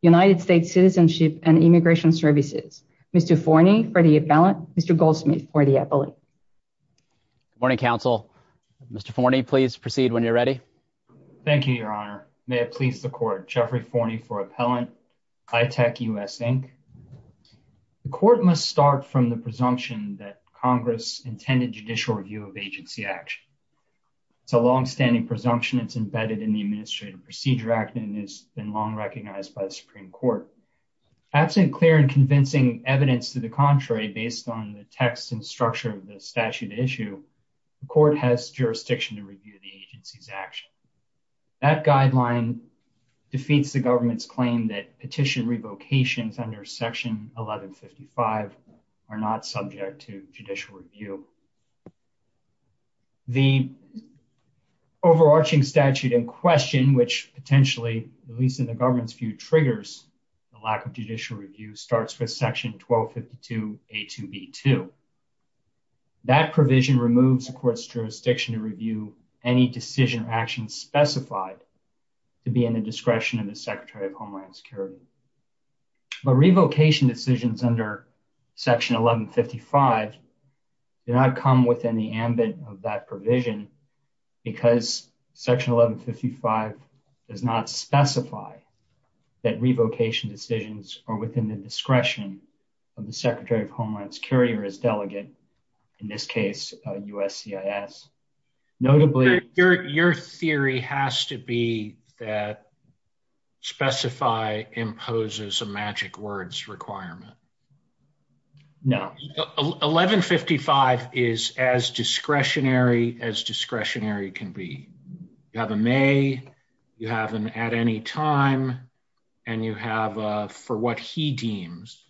United States Citizenship and Immigration Services. Mr. Forney for the appellant, Mr. Goldsmith for the appellant. Good morning, counsel. Mr. Forney, please proceed when you're ready. Thank you, Your Honor. May it please the court, Jeffrey Forney for appellant, iTech U.S., Inc. The court must start from the presumption that Congress intended judicial review of HIV It's a longstanding presumption. It's embedded in the Administrative Procedure Act and has been long recognized by the Supreme Court. Absent clear and convincing evidence to the contrary, based on the text and structure of the statute at issue, the court has jurisdiction to review the agency's action. That guideline defeats the government's claim that petition revocations under Section 1155 are not subject to judicial review. The overarching statute in question, which potentially, at least in the government's view, triggers the lack of judicial review, starts with Section 1252A2B2. That provision removes the court's jurisdiction to review any decision or action specified to be in the discretion of the Secretary of Homeland Security. But revocation decisions under Section 1155 do not come within the ambit of that provision because Section 1155 does not specify that revocation decisions are within the discretion of the Secretary of Homeland Security or his delegate, in this case, USCIS. Your theory has to be that specify imposes a magic words requirement. No. 1155 is as discretionary as discretionary can be. You have a may, you have an at any time, and you have a for what he deems.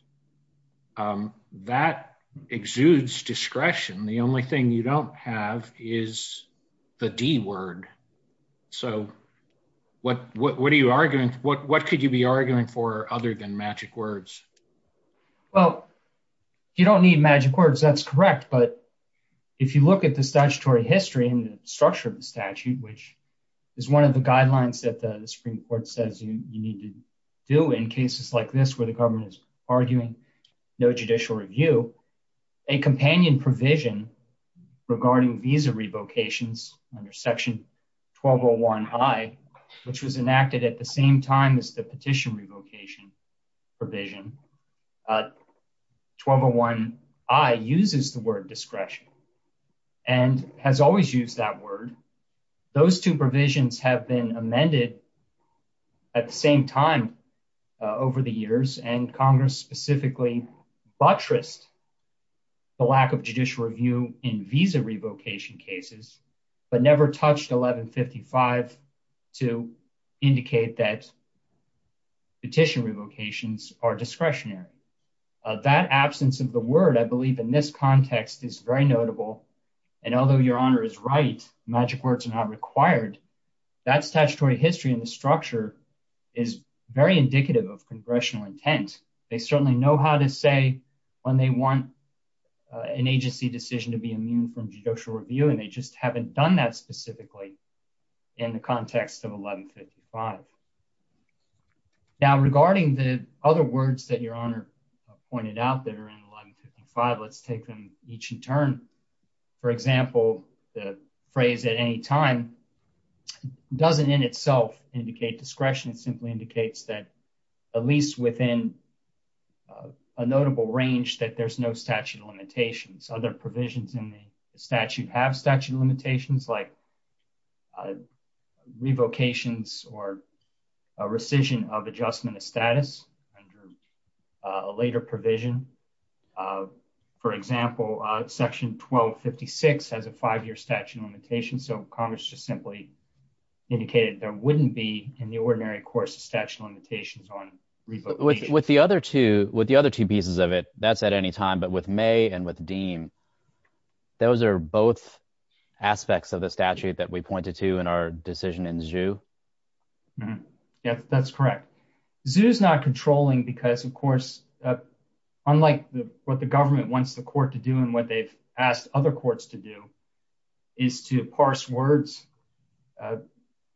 That exudes discretion. The only thing you don't have is the D word. So, what, what, what are you arguing, what, what could you be arguing for other than magic words. Well, you don't need magic words, that's correct. But if you look at the statutory history and structure of the statute, which is one of the guidelines that the Supreme Court says you need to do in cases like this where the government is arguing no judicial review. So, a companion provision regarding visa revocations under Section 1201 I, which was enacted at the same time as the petition revocation provision. Section 1201 I uses the word discretion and has always used that word. Those two provisions have been amended at the same time over the years and Congress specifically buttressed the lack of judicial review in visa revocation cases, but never touched 1155 to indicate that That absence of the word I believe in this context is very notable. And although Your Honor is right, magic words are not required. That statutory history and the structure is very indicative of congressional intent. They certainly know how to say when they want an agency decision to be immune from judicial review and they just haven't done that specifically in the context of 1155. Now, regarding the other words that Your Honor pointed out that are in 1155, let's take them each in turn. For example, the phrase at any time doesn't in itself indicate discretion. It simply indicates that at least within a notable range that there's no statute of limitations. Other provisions in the statute have statute of limitations like revocations or rescission of adjustment of status under a later provision. For example, section 1256 has a five-year statute of limitations. So Congress just simply indicated there wouldn't be in the ordinary course of statute of limitations on revocation. With the other two pieces of it, that's at any time, but with May and with Deem, those are both aspects of the statute that we pointed to in our decision in ZHU. Yes, that's correct. ZHU is not controlling because, of course, unlike what the government wants the court to do and what they've asked other courts to do is to parse words,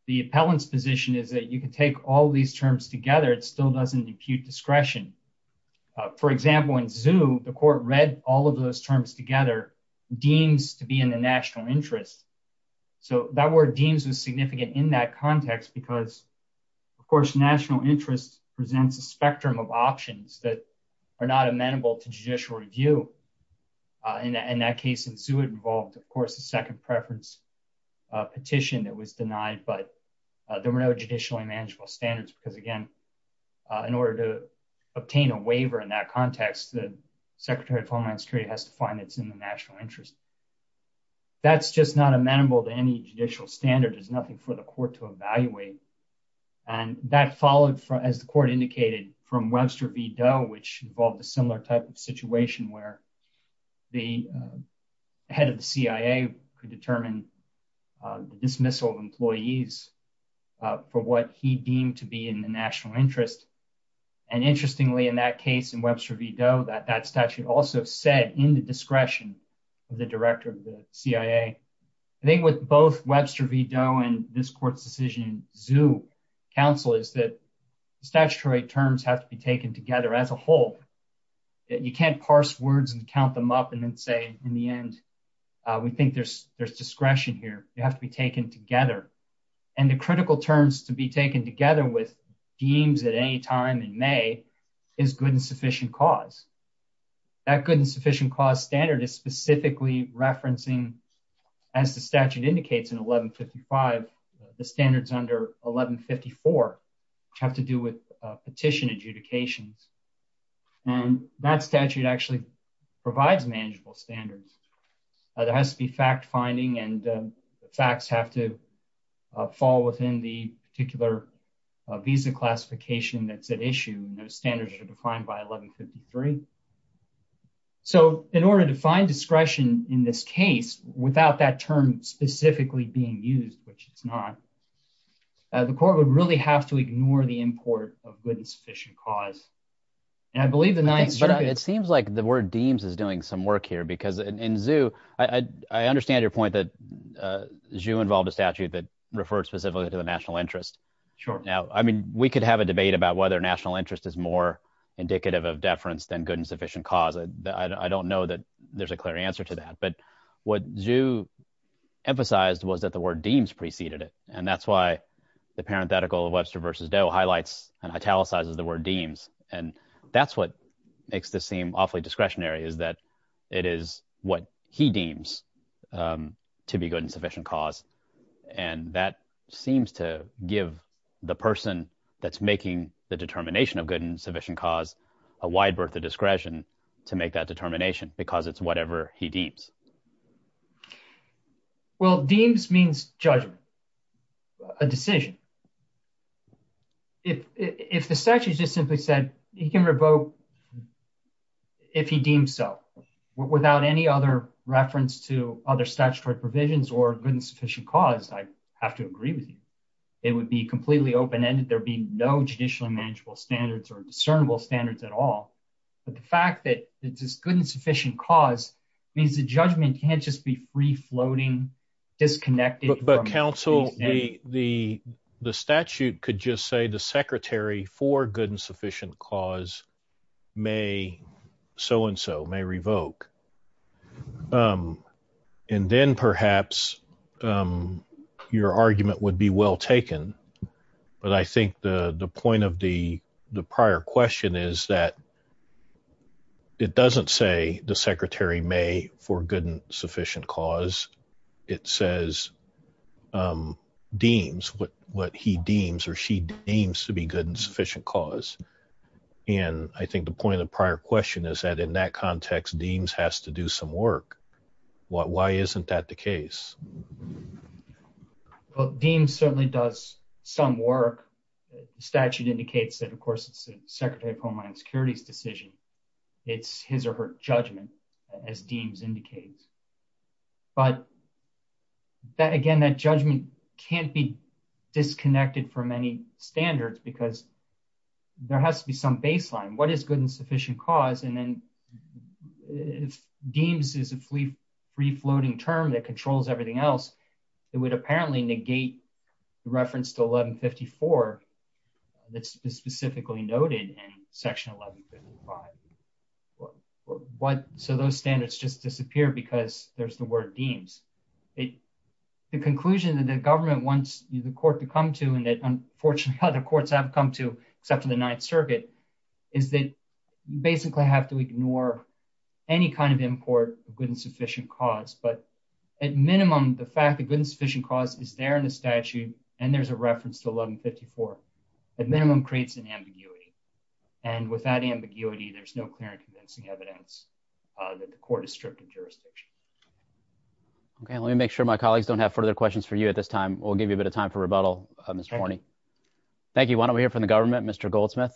the appellant's position is that you can take all these terms together, it still doesn't impute discretion. For example, in ZHU, the court read all of those terms together, deems to be in the national interest. So that word deems is significant in that context because, of course, national interest presents a spectrum of options that are not amenable to judicial review. In that case in ZHU, it involved, of course, the second preference petition that was denied, but there were no judicially manageable standards because, again, in order to obtain a waiver in that context, the Secretary of Homeland Security has to find it's in the national interest. That's just not amenable to any judicial standard. There's nothing for the court to evaluate. And that followed, as the court indicated, from Webster v. Doe, which involved a similar type of situation where the head of the CIA could determine the dismissal of employees for what he deemed to be in the national interest. And interestingly, in that case in Webster v. Doe, that statute also said in the discretion of the director of the CIA. I think with both Webster v. Doe and this court's decision in ZHU counsel is that statutory terms have to be taken together as a whole. You can't parse words and count them up and then say, in the end, we think there's discretion here. They have to be taken together. And the critical terms to be taken together with deems at any time in May is good and sufficient cause. That good and sufficient cause standard is specifically referencing, as the statute indicates in 1155, the standards under 1154 have to do with petition adjudications. And that statute actually provides manageable standards. There has to be fact finding and facts have to fall within the particular visa classification that's at issue. Those standards are defined by 1153. So in order to find discretion in this case, without that term specifically being used, which it's not, the court would really have to ignore the import of good and sufficient cause. It seems like the word deems is doing some work here because in ZHU, I understand your point that ZHU involved a statute that referred specifically to the national interest. Now, I mean, we could have a debate about whether national interest is more indicative of deference than good and sufficient cause. I don't know that there's a clear answer to that. But what ZHU emphasized was that the word deems preceded it. And that's why the parenthetical of Webster versus Doe highlights and italicizes the word deems. And that's what makes this seem awfully discretionary is that it is what he deems to be good and sufficient cause. And that seems to give the person that's making the determination of good and sufficient cause a wide berth of discretion to make that determination because it's whatever he deems. Well, deems means judgment, a decision. If the statute just simply said he can revoke if he deems so, without any other reference to other statutory provisions or good and sufficient cause, I have to agree with you. It would be completely open-ended, there'd be no judicially manageable standards or discernible standards at all. But the fact that it's good and sufficient cause means the judgment can't just be free-floating, disconnected. But, counsel, the statute could just say the secretary for good and sufficient cause may so-and-so, may revoke. And then perhaps your argument would be well taken. But I think the point of the prior question is that it doesn't say the secretary may for good and sufficient cause. It says deems, what he deems or she deems to be good and sufficient cause. And I think the point of the prior question is that in that context, deems has to do some work. Why isn't that the case? Well, deems certainly does some work. The statute indicates that, of course, it's the Secretary of Homeland Security's decision. It's his or her judgment, as deems indicates. But, again, that judgment can't be disconnected from any standards because there has to be some baseline. What is good and sufficient cause? And then deems is a free-floating term that controls everything else. It would apparently negate the reference to 1154 that's specifically noted in Section 1155. So those standards just disappear because there's the word deems. The conclusion that the government wants the court to come to and that, unfortunately, other courts haven't come to except for the Ninth Circuit, is that you basically have to ignore any kind of import of good and sufficient cause. But, at minimum, the fact that good and sufficient cause is there in the statute and there's a reference to 1154, at minimum, creates an ambiguity. And without ambiguity, there's no clear and convincing evidence that the court is stripped of jurisdiction. Okay, let me make sure my colleagues don't have further questions for you at this time. We'll give you a bit of time for rebuttal, Mr. Horney. Thank you. Why don't we hear from the government, Mr. Goldsmith?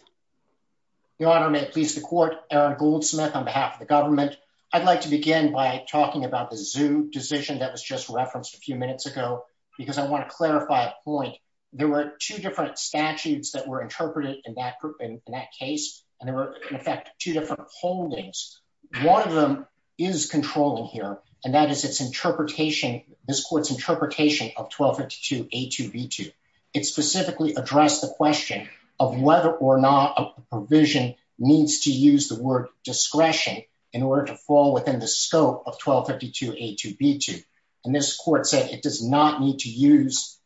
Your Honor, may it please the court, Aaron Goldsmith on behalf of the government. I'd like to begin by talking about the ZHU decision that was just referenced a few minutes ago because I want to clarify a point. There were two different statutes that were interpreted in that case, and there were, in effect, two different holdings. One of them is controlling here, and that is its interpretation, this court's interpretation of 1252A2B2. It specifically addressed the question of whether or not a provision needs to use the word discretion in order to fall within the scope of 1252A2B2. And this court said it does not need to use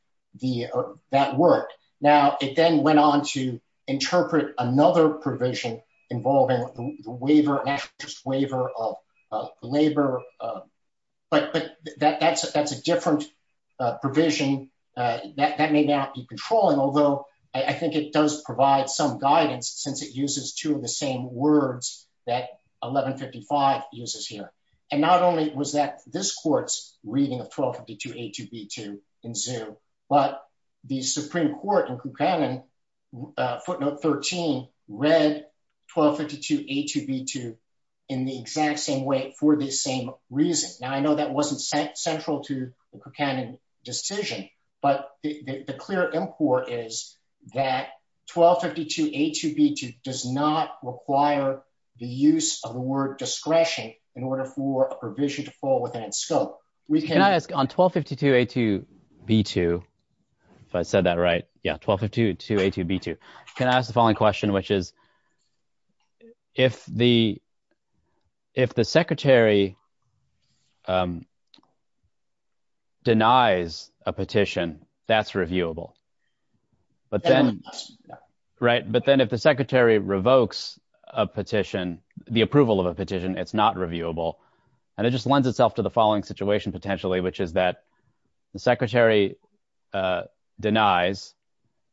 that word. Now, it then went on to interpret another provision involving the waiver of labor, but that's a different provision. That may not be controlling, although I think it does provide some guidance since it uses two of the same words that 1155 uses here. And not only was that this court's reading of 1252A2B2 in ZHU, but the Supreme Court in Kucanen, footnote 13, read 1252A2B2 in the exact same way for the same reason. Now, I know that wasn't central to the Kucanen decision, but the clear import is that 1252A2B2 does not require the use of the word discretion in order for a provision to fall within its scope. Can I ask, on 1252A2B2, if I said that right, yeah, 1252A2B2, can I ask the following question, which is, if the Secretary denies a petition, that's reviewable. But then if the Secretary revokes a petition, the approval of a petition, it's not reviewable. And it just lends itself to the following situation, potentially, which is that the Secretary denies,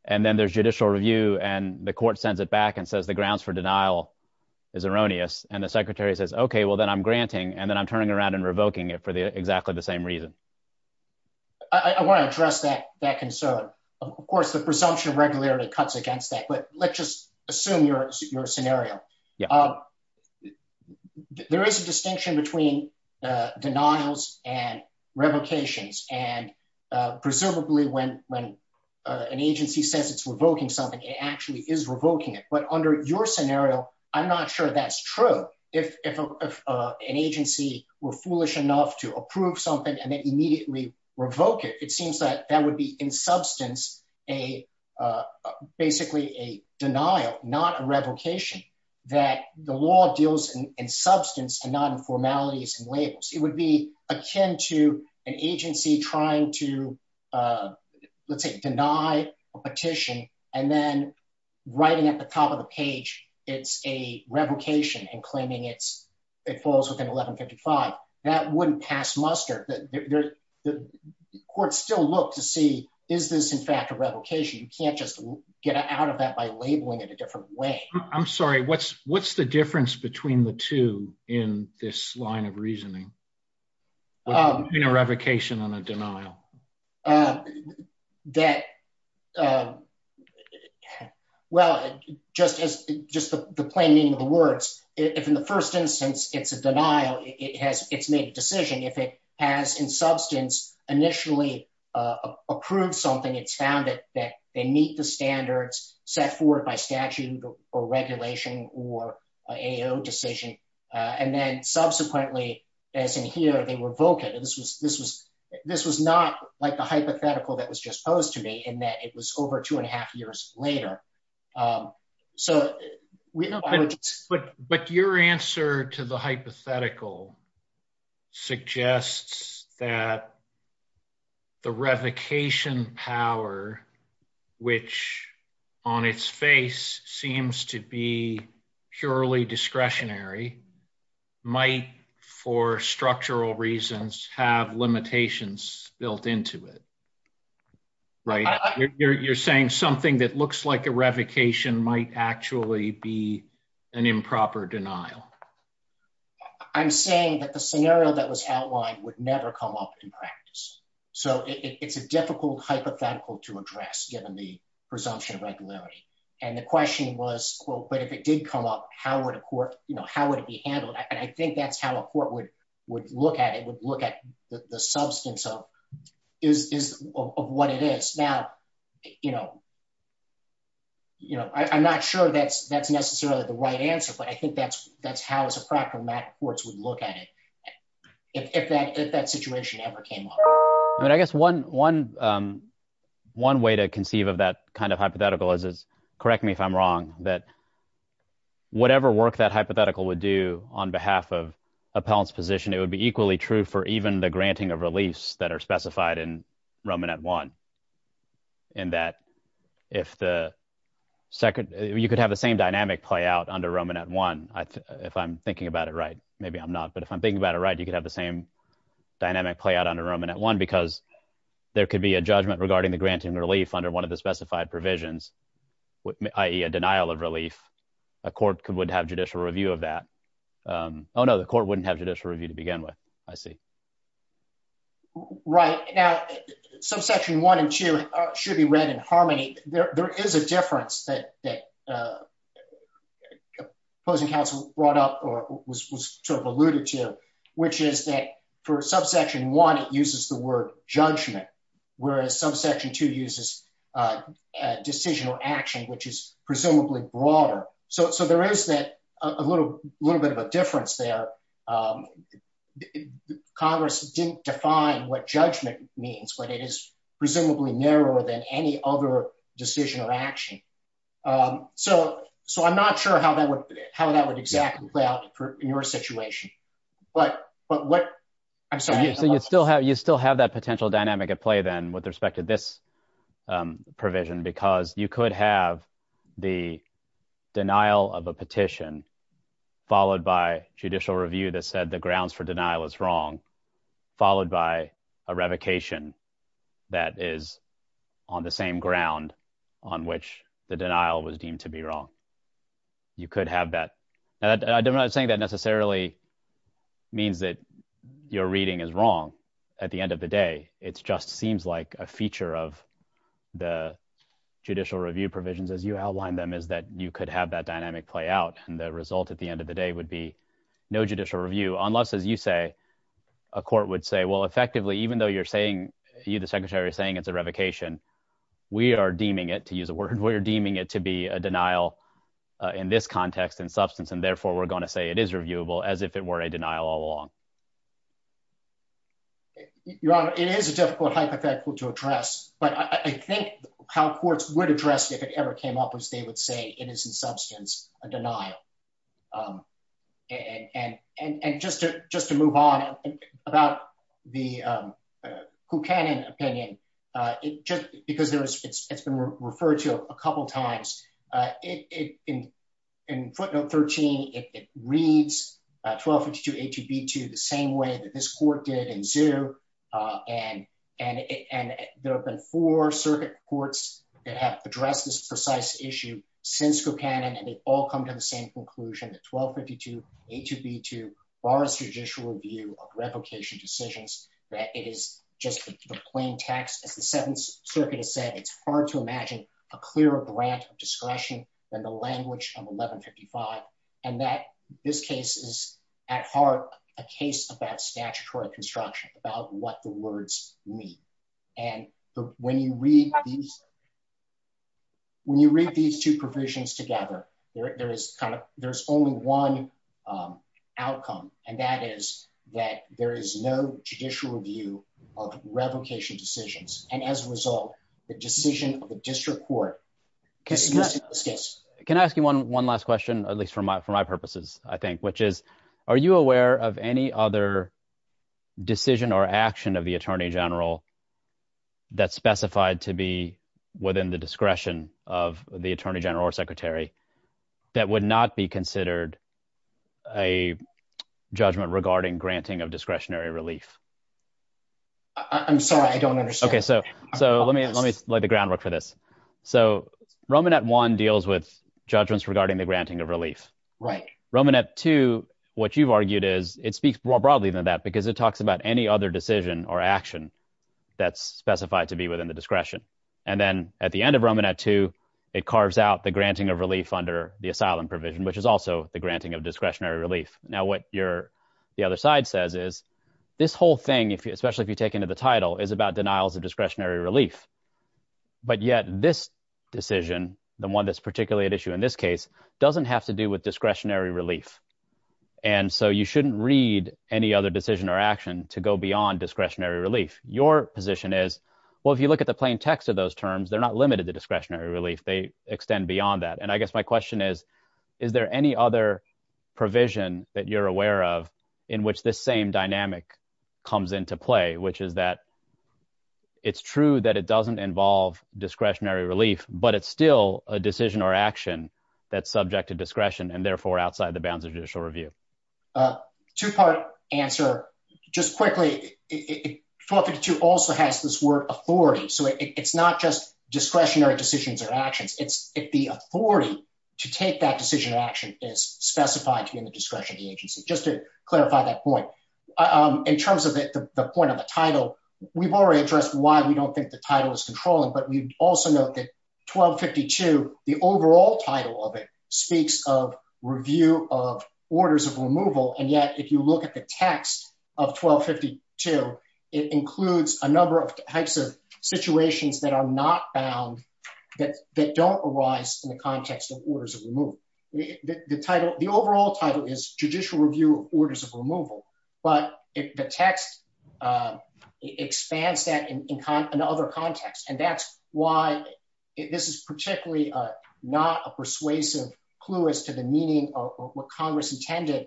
and then there's judicial review, and the court sends it back and says the grounds for denial is erroneous. And the Secretary says, okay, well, then I'm granting, and then I'm turning around and revoking it for exactly the same reason. I want to address that concern. Of course, the presumption of regularity cuts against that, but let's just assume your scenario. There is a distinction between denials and revocations, and presumably when an agency says it's revoking something, it actually is revoking it. But under your scenario, I'm not sure that's true. If an agency were foolish enough to approve something and then immediately revoke it, it seems that that would be in substance basically a denial, not a revocation, that the law deals in substance and not in formalities and labels. It would be akin to an agency trying to, let's say, deny a petition, and then writing at the top of the page, it's a revocation and claiming it falls within 1155. That wouldn't pass muster. The court still looks to see, is this in fact a revocation? You can't just get out of that by labeling it a different way. I'm sorry, what's the difference between the two in this line of reasoning? Between a revocation and a denial? Well, just the plain meaning of the words, if in the first instance it's a denial, it's made a decision. If it has in substance initially approved something, it's found that they meet the standards set forth by statute or regulation or AO decision. And then subsequently, as in here, they revoke it. This was not like the hypothetical that was just posed to me in that it was over two and a half years later. But your answer to the hypothetical suggests that the revocation power, which on its face seems to be purely discretionary, might, for structural reasons, have limitations built into it. Right. You're saying something that looks like a revocation might actually be an improper denial. I'm saying that the scenario that was outlined would never come up in practice. So it's a difficult hypothetical to address, given the presumption of regularity. And the question was, well, but if it did come up, how would a court, you know, how would it be handled? And I think that's how a court would look at it, would look at the substance of what it is. Now, you know, I'm not sure that's necessarily the right answer, but I think that's how, as a practice, courts would look at it, if that situation ever came up. I mean, I guess one way to conceive of that kind of hypothetical is, correct me if I'm wrong, that whatever work that hypothetical would do on behalf of appellant's position, it would be equally true for even the granting of reliefs that are specified in Roman at one. In that, if the second, you could have the same dynamic play out under Roman at one. If I'm thinking about it right, maybe I'm not. But if I'm thinking about it right, you could have the same dynamic play out under Roman at one, because there could be a judgment regarding the granting relief under one of the specified provisions, i.e. a denial of relief. A court could would have judicial review of that. Oh, no, the court wouldn't have judicial review to begin with. I see. Right now, subsection one and two should be read in harmony. There is a difference that opposing counsel brought up or was sort of alluded to, which is that for subsection one, it uses the word judgment, whereas subsection two uses decisional action, which is presumably broader. So there is a little bit of a difference there. Congress didn't define what judgment means, but it is presumably narrower than any other decision or action. So I'm not sure how that would exactly play out in your situation. You still have that potential dynamic at play, then, with respect to this provision, because you could have the denial of a petition, followed by judicial review that said the grounds for denial is wrong, followed by a revocation that is on the same ground on which the denial was deemed to be wrong. You could have that. I'm not saying that necessarily means that your reading is wrong. At the end of the day, it just seems like a feature of the judicial review provisions, as you outlined them, is that you could have that dynamic play out, and the result at the end of the day would be no judicial review. Unless, as you say, a court would say, well, effectively, even though you're saying, you, the Secretary, are saying it's a revocation, we are deeming it, to use a word, we're deeming it to be a denial in this context, in substance, and therefore we're going to say it is reviewable, as if it were a denial all along. Your Honor, it is a difficult hypothetical to address, but I think how courts would address it if it ever came up was they would say it is, in substance, a denial. And just to move on, about the Buchanan opinion, just because it's been referred to a couple times, in footnote 13, it reads 1252A2B2 the same way that this court did in Zou, and there have been four circuit courts that have addressed this precise issue since Buchanan, and they've all come to the same conclusion, that 1252A2B2 bars judicial review of revocation decisions, that it is just the plain text, as the Seventh Circuit has said, it's hard to imagine a clearer grant of discretion than the language of 1155, and that this case is, at heart, a case about statutory construction, about what the words mean. And when you read these two provisions together, there's only one outcome, and that is that there is no judicial review of revocation decisions, and as a result, the decision of the district court dismisses this case. Can I ask you one last question, at least for my purposes, I think, which is, are you aware of any other decision or action of the Attorney General that's specified to be within the discretion of the Attorney General or Secretary that would not be considered a judgment regarding granting of discretionary relief? I'm sorry, I don't understand. Okay, so let me lay the groundwork for this. So, Romanet I deals with judgments regarding the granting of relief. Romanet II, what you've argued is, it speaks more broadly than that, because it talks about any other decision or action that's specified to be within the discretion. And then, at the end of Romanet II, it carves out the granting of relief under the asylum provision, which is also the granting of discretionary relief. Now, what the other side says is, this whole thing, especially if you take into the title, is about denials of discretionary relief, but yet this decision, the one that's particularly at issue in this case, doesn't have to do with discretionary relief. And so, you shouldn't read any other decision or action to go beyond discretionary relief. Your position is, well, if you look at the plain text of those terms, they're not limited to discretionary relief. They extend beyond that. And I guess my question is, is there any other provision that you're aware of in which this same dynamic comes into play, which is that it's true that it doesn't involve discretionary relief, but it's still a decision or action that's subject to discretion and therefore outside the bounds of discretion. Two-part answer. Just quickly, 1252 also has this word authority. So, it's not just discretionary decisions or actions. It's if the authority to take that decision or action is specified to be in the discretion of the agency. Just to clarify that point. In terms of the point of the title, we've already addressed why we don't think the title is controlling, but we also note that 1252, the overall title of it, speaks of review of orders of removal. And yet, if you look at the text of 1252, it includes a number of types of situations that are not bound, that don't arise in the context of orders of removal. The overall title is judicial review orders of removal, but the text expands that in other contexts. And that's why this is particularly not a persuasive clue as to the meaning of what Congress intended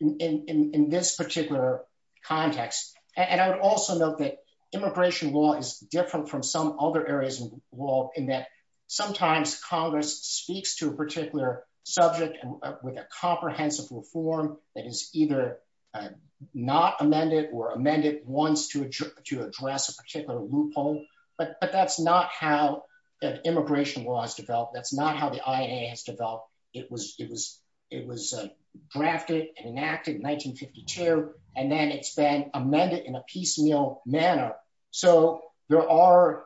in this particular context. And I would also note that immigration law is different from some other areas of law in that sometimes Congress speaks to a particular subject with a comprehensive reform that is either not amended or amended once to address a particular loophole. But that's not how immigration law is developed. That's not how the IAA has developed. It was drafted and enacted in 1952, and then it's been amended in a piecemeal manner. So, the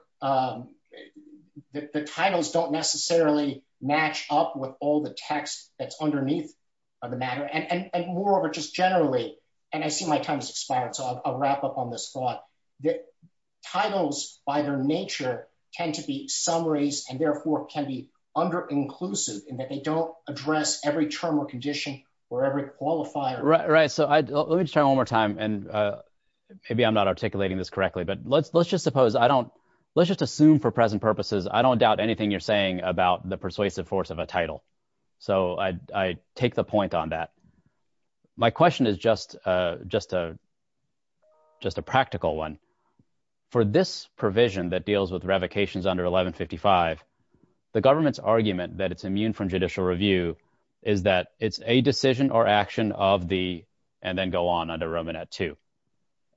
titles don't necessarily match up with all the text that's underneath the matter. And moreover, just generally, and I see my time has expired, so I'll wrap up on this thought, that titles, by their nature, tend to be summaries and therefore can be under-inclusive in that they don't address every term or condition or every qualifier. Right. So, let me just try one more time, and maybe I'm not articulating this correctly, but let's just assume for present purposes I don't doubt anything you're saying about the persuasive force of a title. So, I take the point on that. My question is just a practical one. For this provision that deals with revocations under 1155, the government's argument that it's immune from judicial review is that it's a decision or action of the, and then go on under Roman at two.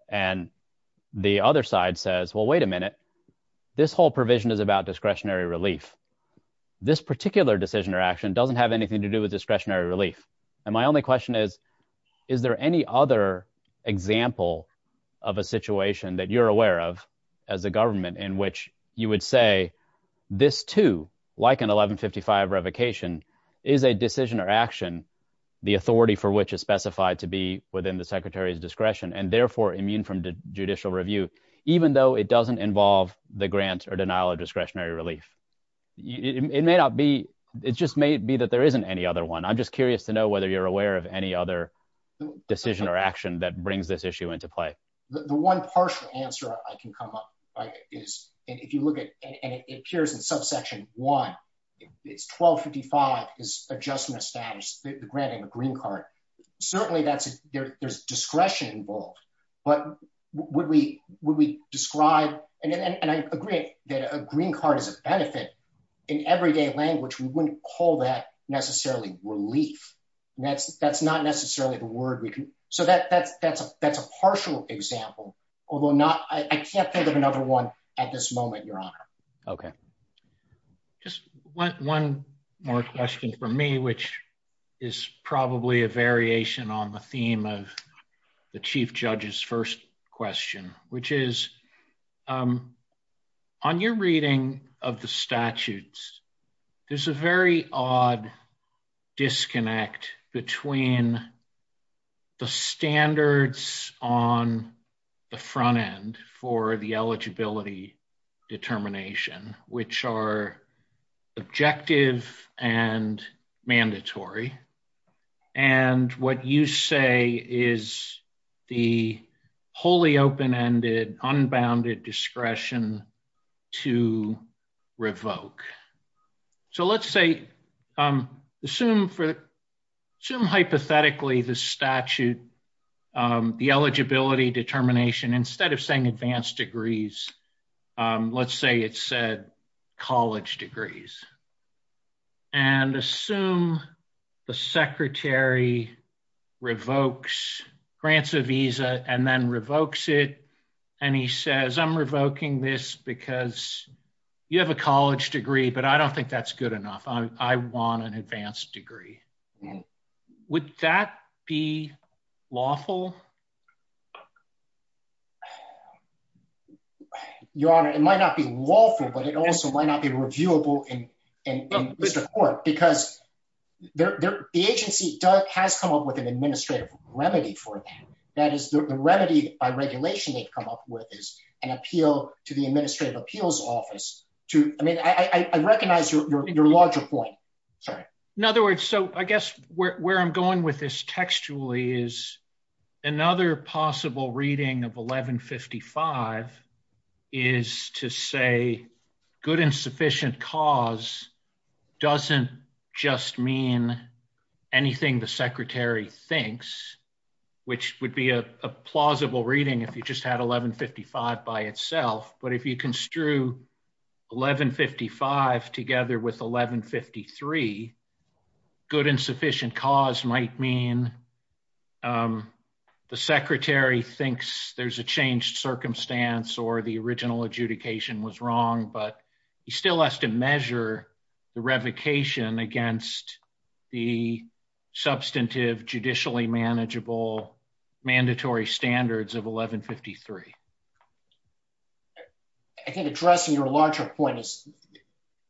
And the other side says, well, wait a minute, this whole provision is about discretionary relief. This particular decision or action doesn't have anything to do with discretionary relief. And my only question is, is there any other example of a situation that you're aware of as a government in which you would say, this too, like an 1155 revocation, is a decision or action, the authority for which is specified to be within the Secretary's discretion and therefore immune from judicial review, even though it doesn't involve the grant or denial of discretionary relief? It may not be, it just may be that there isn't any other one. I'm just curious to know whether you're aware of any other decision or action that brings this issue into play. The one partial answer I can come up is, if you look at, and it appears in subsection one, it's 1255 is adjustment of status, the granting of a green card. Certainly there's discretion involved, but would we describe, and I agree that a green card is a benefit. In everyday language, we wouldn't call that necessarily relief. That's not necessarily the word we can, so that's a partial example, although not, I can't think of another one at this moment, Your Honor. Okay. Just one more question for me, which is probably a variation on the theme of the Chief Judge's first question, which is, on your reading of the statutes, there's a very odd disconnect between the standards on the front end for the eligibility determination, which are objective and mandatory, and what you say is the wholly open-ended, unbounded discretion to revoke. So let's say, assume hypothetically the statute, the eligibility determination, instead of saying advanced degrees, let's say it said college degrees. And assume the secretary revokes, grants a visa, and then revokes it, and he says, I'm revoking this because you have a college degree, but I don't think that's good enough. I want an advanced degree. Would that be lawful? Your Honor, it might not be lawful, but it also might not be reviewable in the court, because the agency has come up with an administrative remedy for that. That is, the remedy by regulation they've come up with is an appeal to the Administrative Appeals Office to, I mean, I recognize your larger point. In other words, so I guess where I'm going with this textually is another possible reading of 1155 is to say good and sufficient cause doesn't just mean anything the secretary thinks, which would be a plausible reading if you just had 1155 by itself, but if you construe 1155 together with 1153, good and sufficient cause might mean the secretary thinks there's a changed circumstance or the original adjudication was wrong, but he still has to measure the revocation against the substantive, judicially manageable, mandatory standards of 1153. I think addressing your larger point is,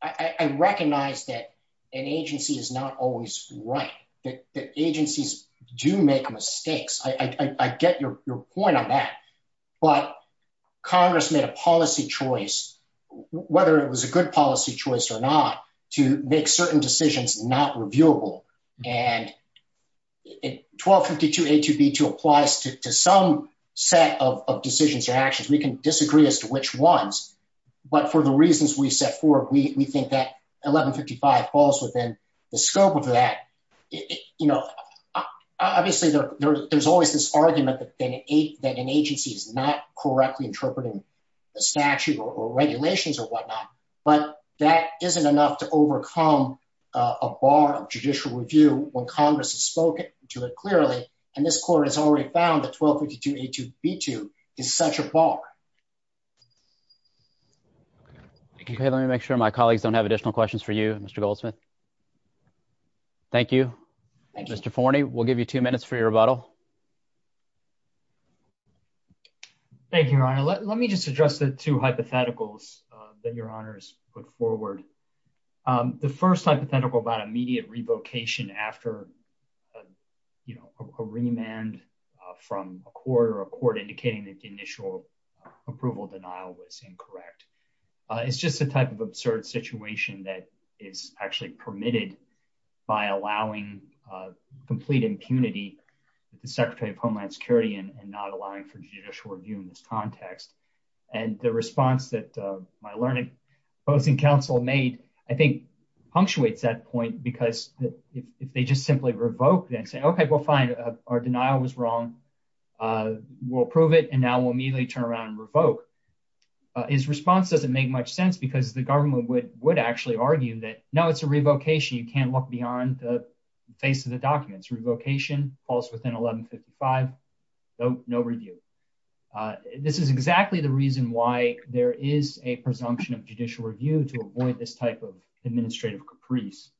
I recognize that an agency is not always right, that agencies do make mistakes. I get your point on that, but Congress made a policy choice, whether it was a good policy choice or not, to make certain decisions not reviewable. And 1252A2B2 applies to some set of decisions or actions. We can disagree as to which ones, but for the reasons we set forward, we think that 1155 falls within the scope of that. Obviously, there's always this argument that an agency is not correctly interpreting the statute or regulations or whatnot, but that isn't enough to overcome a bar of judicial review when Congress has spoken to it clearly, and this court has already found that 1252A2B2 is such a bar. Okay, let me make sure my colleagues don't have additional questions for you, Mr. Goldsmith. Thank you. Mr. Forney, we'll give you two minutes for your rebuttal. Thank you, Your Honor. Let me just address the two hypotheticals that Your Honors put forward. The first hypothetical about immediate revocation after a remand from a court or a court indicating that the initial approval denial was incorrect. It's just a type of absurd situation that is actually permitted by allowing complete impunity to the Secretary of Homeland Security and not allowing for judicial review in this context. And the response that my learned opposing counsel made, I think, punctuates that point because if they just simply revoke and say, okay, well, fine, our denial was wrong, we'll approve it, and now we'll immediately turn around and revoke. His response doesn't make much sense because the government would actually argue that, no, it's a revocation. You can't look beyond the face of the documents. Revocation falls within 1155, no review. This is exactly the reason why there is a presumption of judicial review to avoid this type of administrative caprice.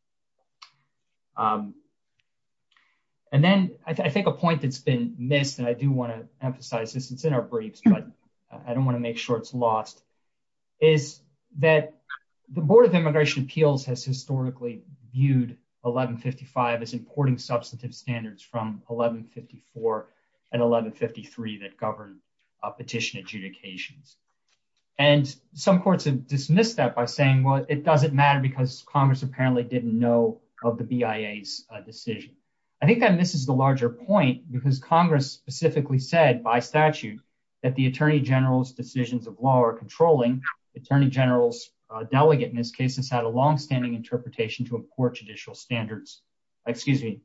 And then I think a point that's been missed, and I do want to emphasize this, it's in our briefs, but I don't want to make sure it's lost, is that the Board of Immigration Appeals has historically viewed 1155 as importing substantive standards from 1154 and 1153 that govern petition adjudications. And some courts have dismissed that by saying, well, it doesn't matter because Congress apparently didn't know of the BIA's decision. I think that misses the larger point because Congress specifically said by statute that the Attorney General's decisions of law are controlling. Attorney General's delegate in this case has had a longstanding interpretation to import judicial standards, excuse me,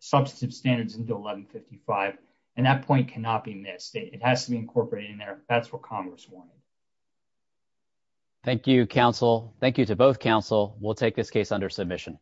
substantive standards into 1155, and that point cannot be missed. It has to be incorporated in there. That's what Congress wanted. Thank you, counsel. Thank you to both counsel. We'll take this case under submission.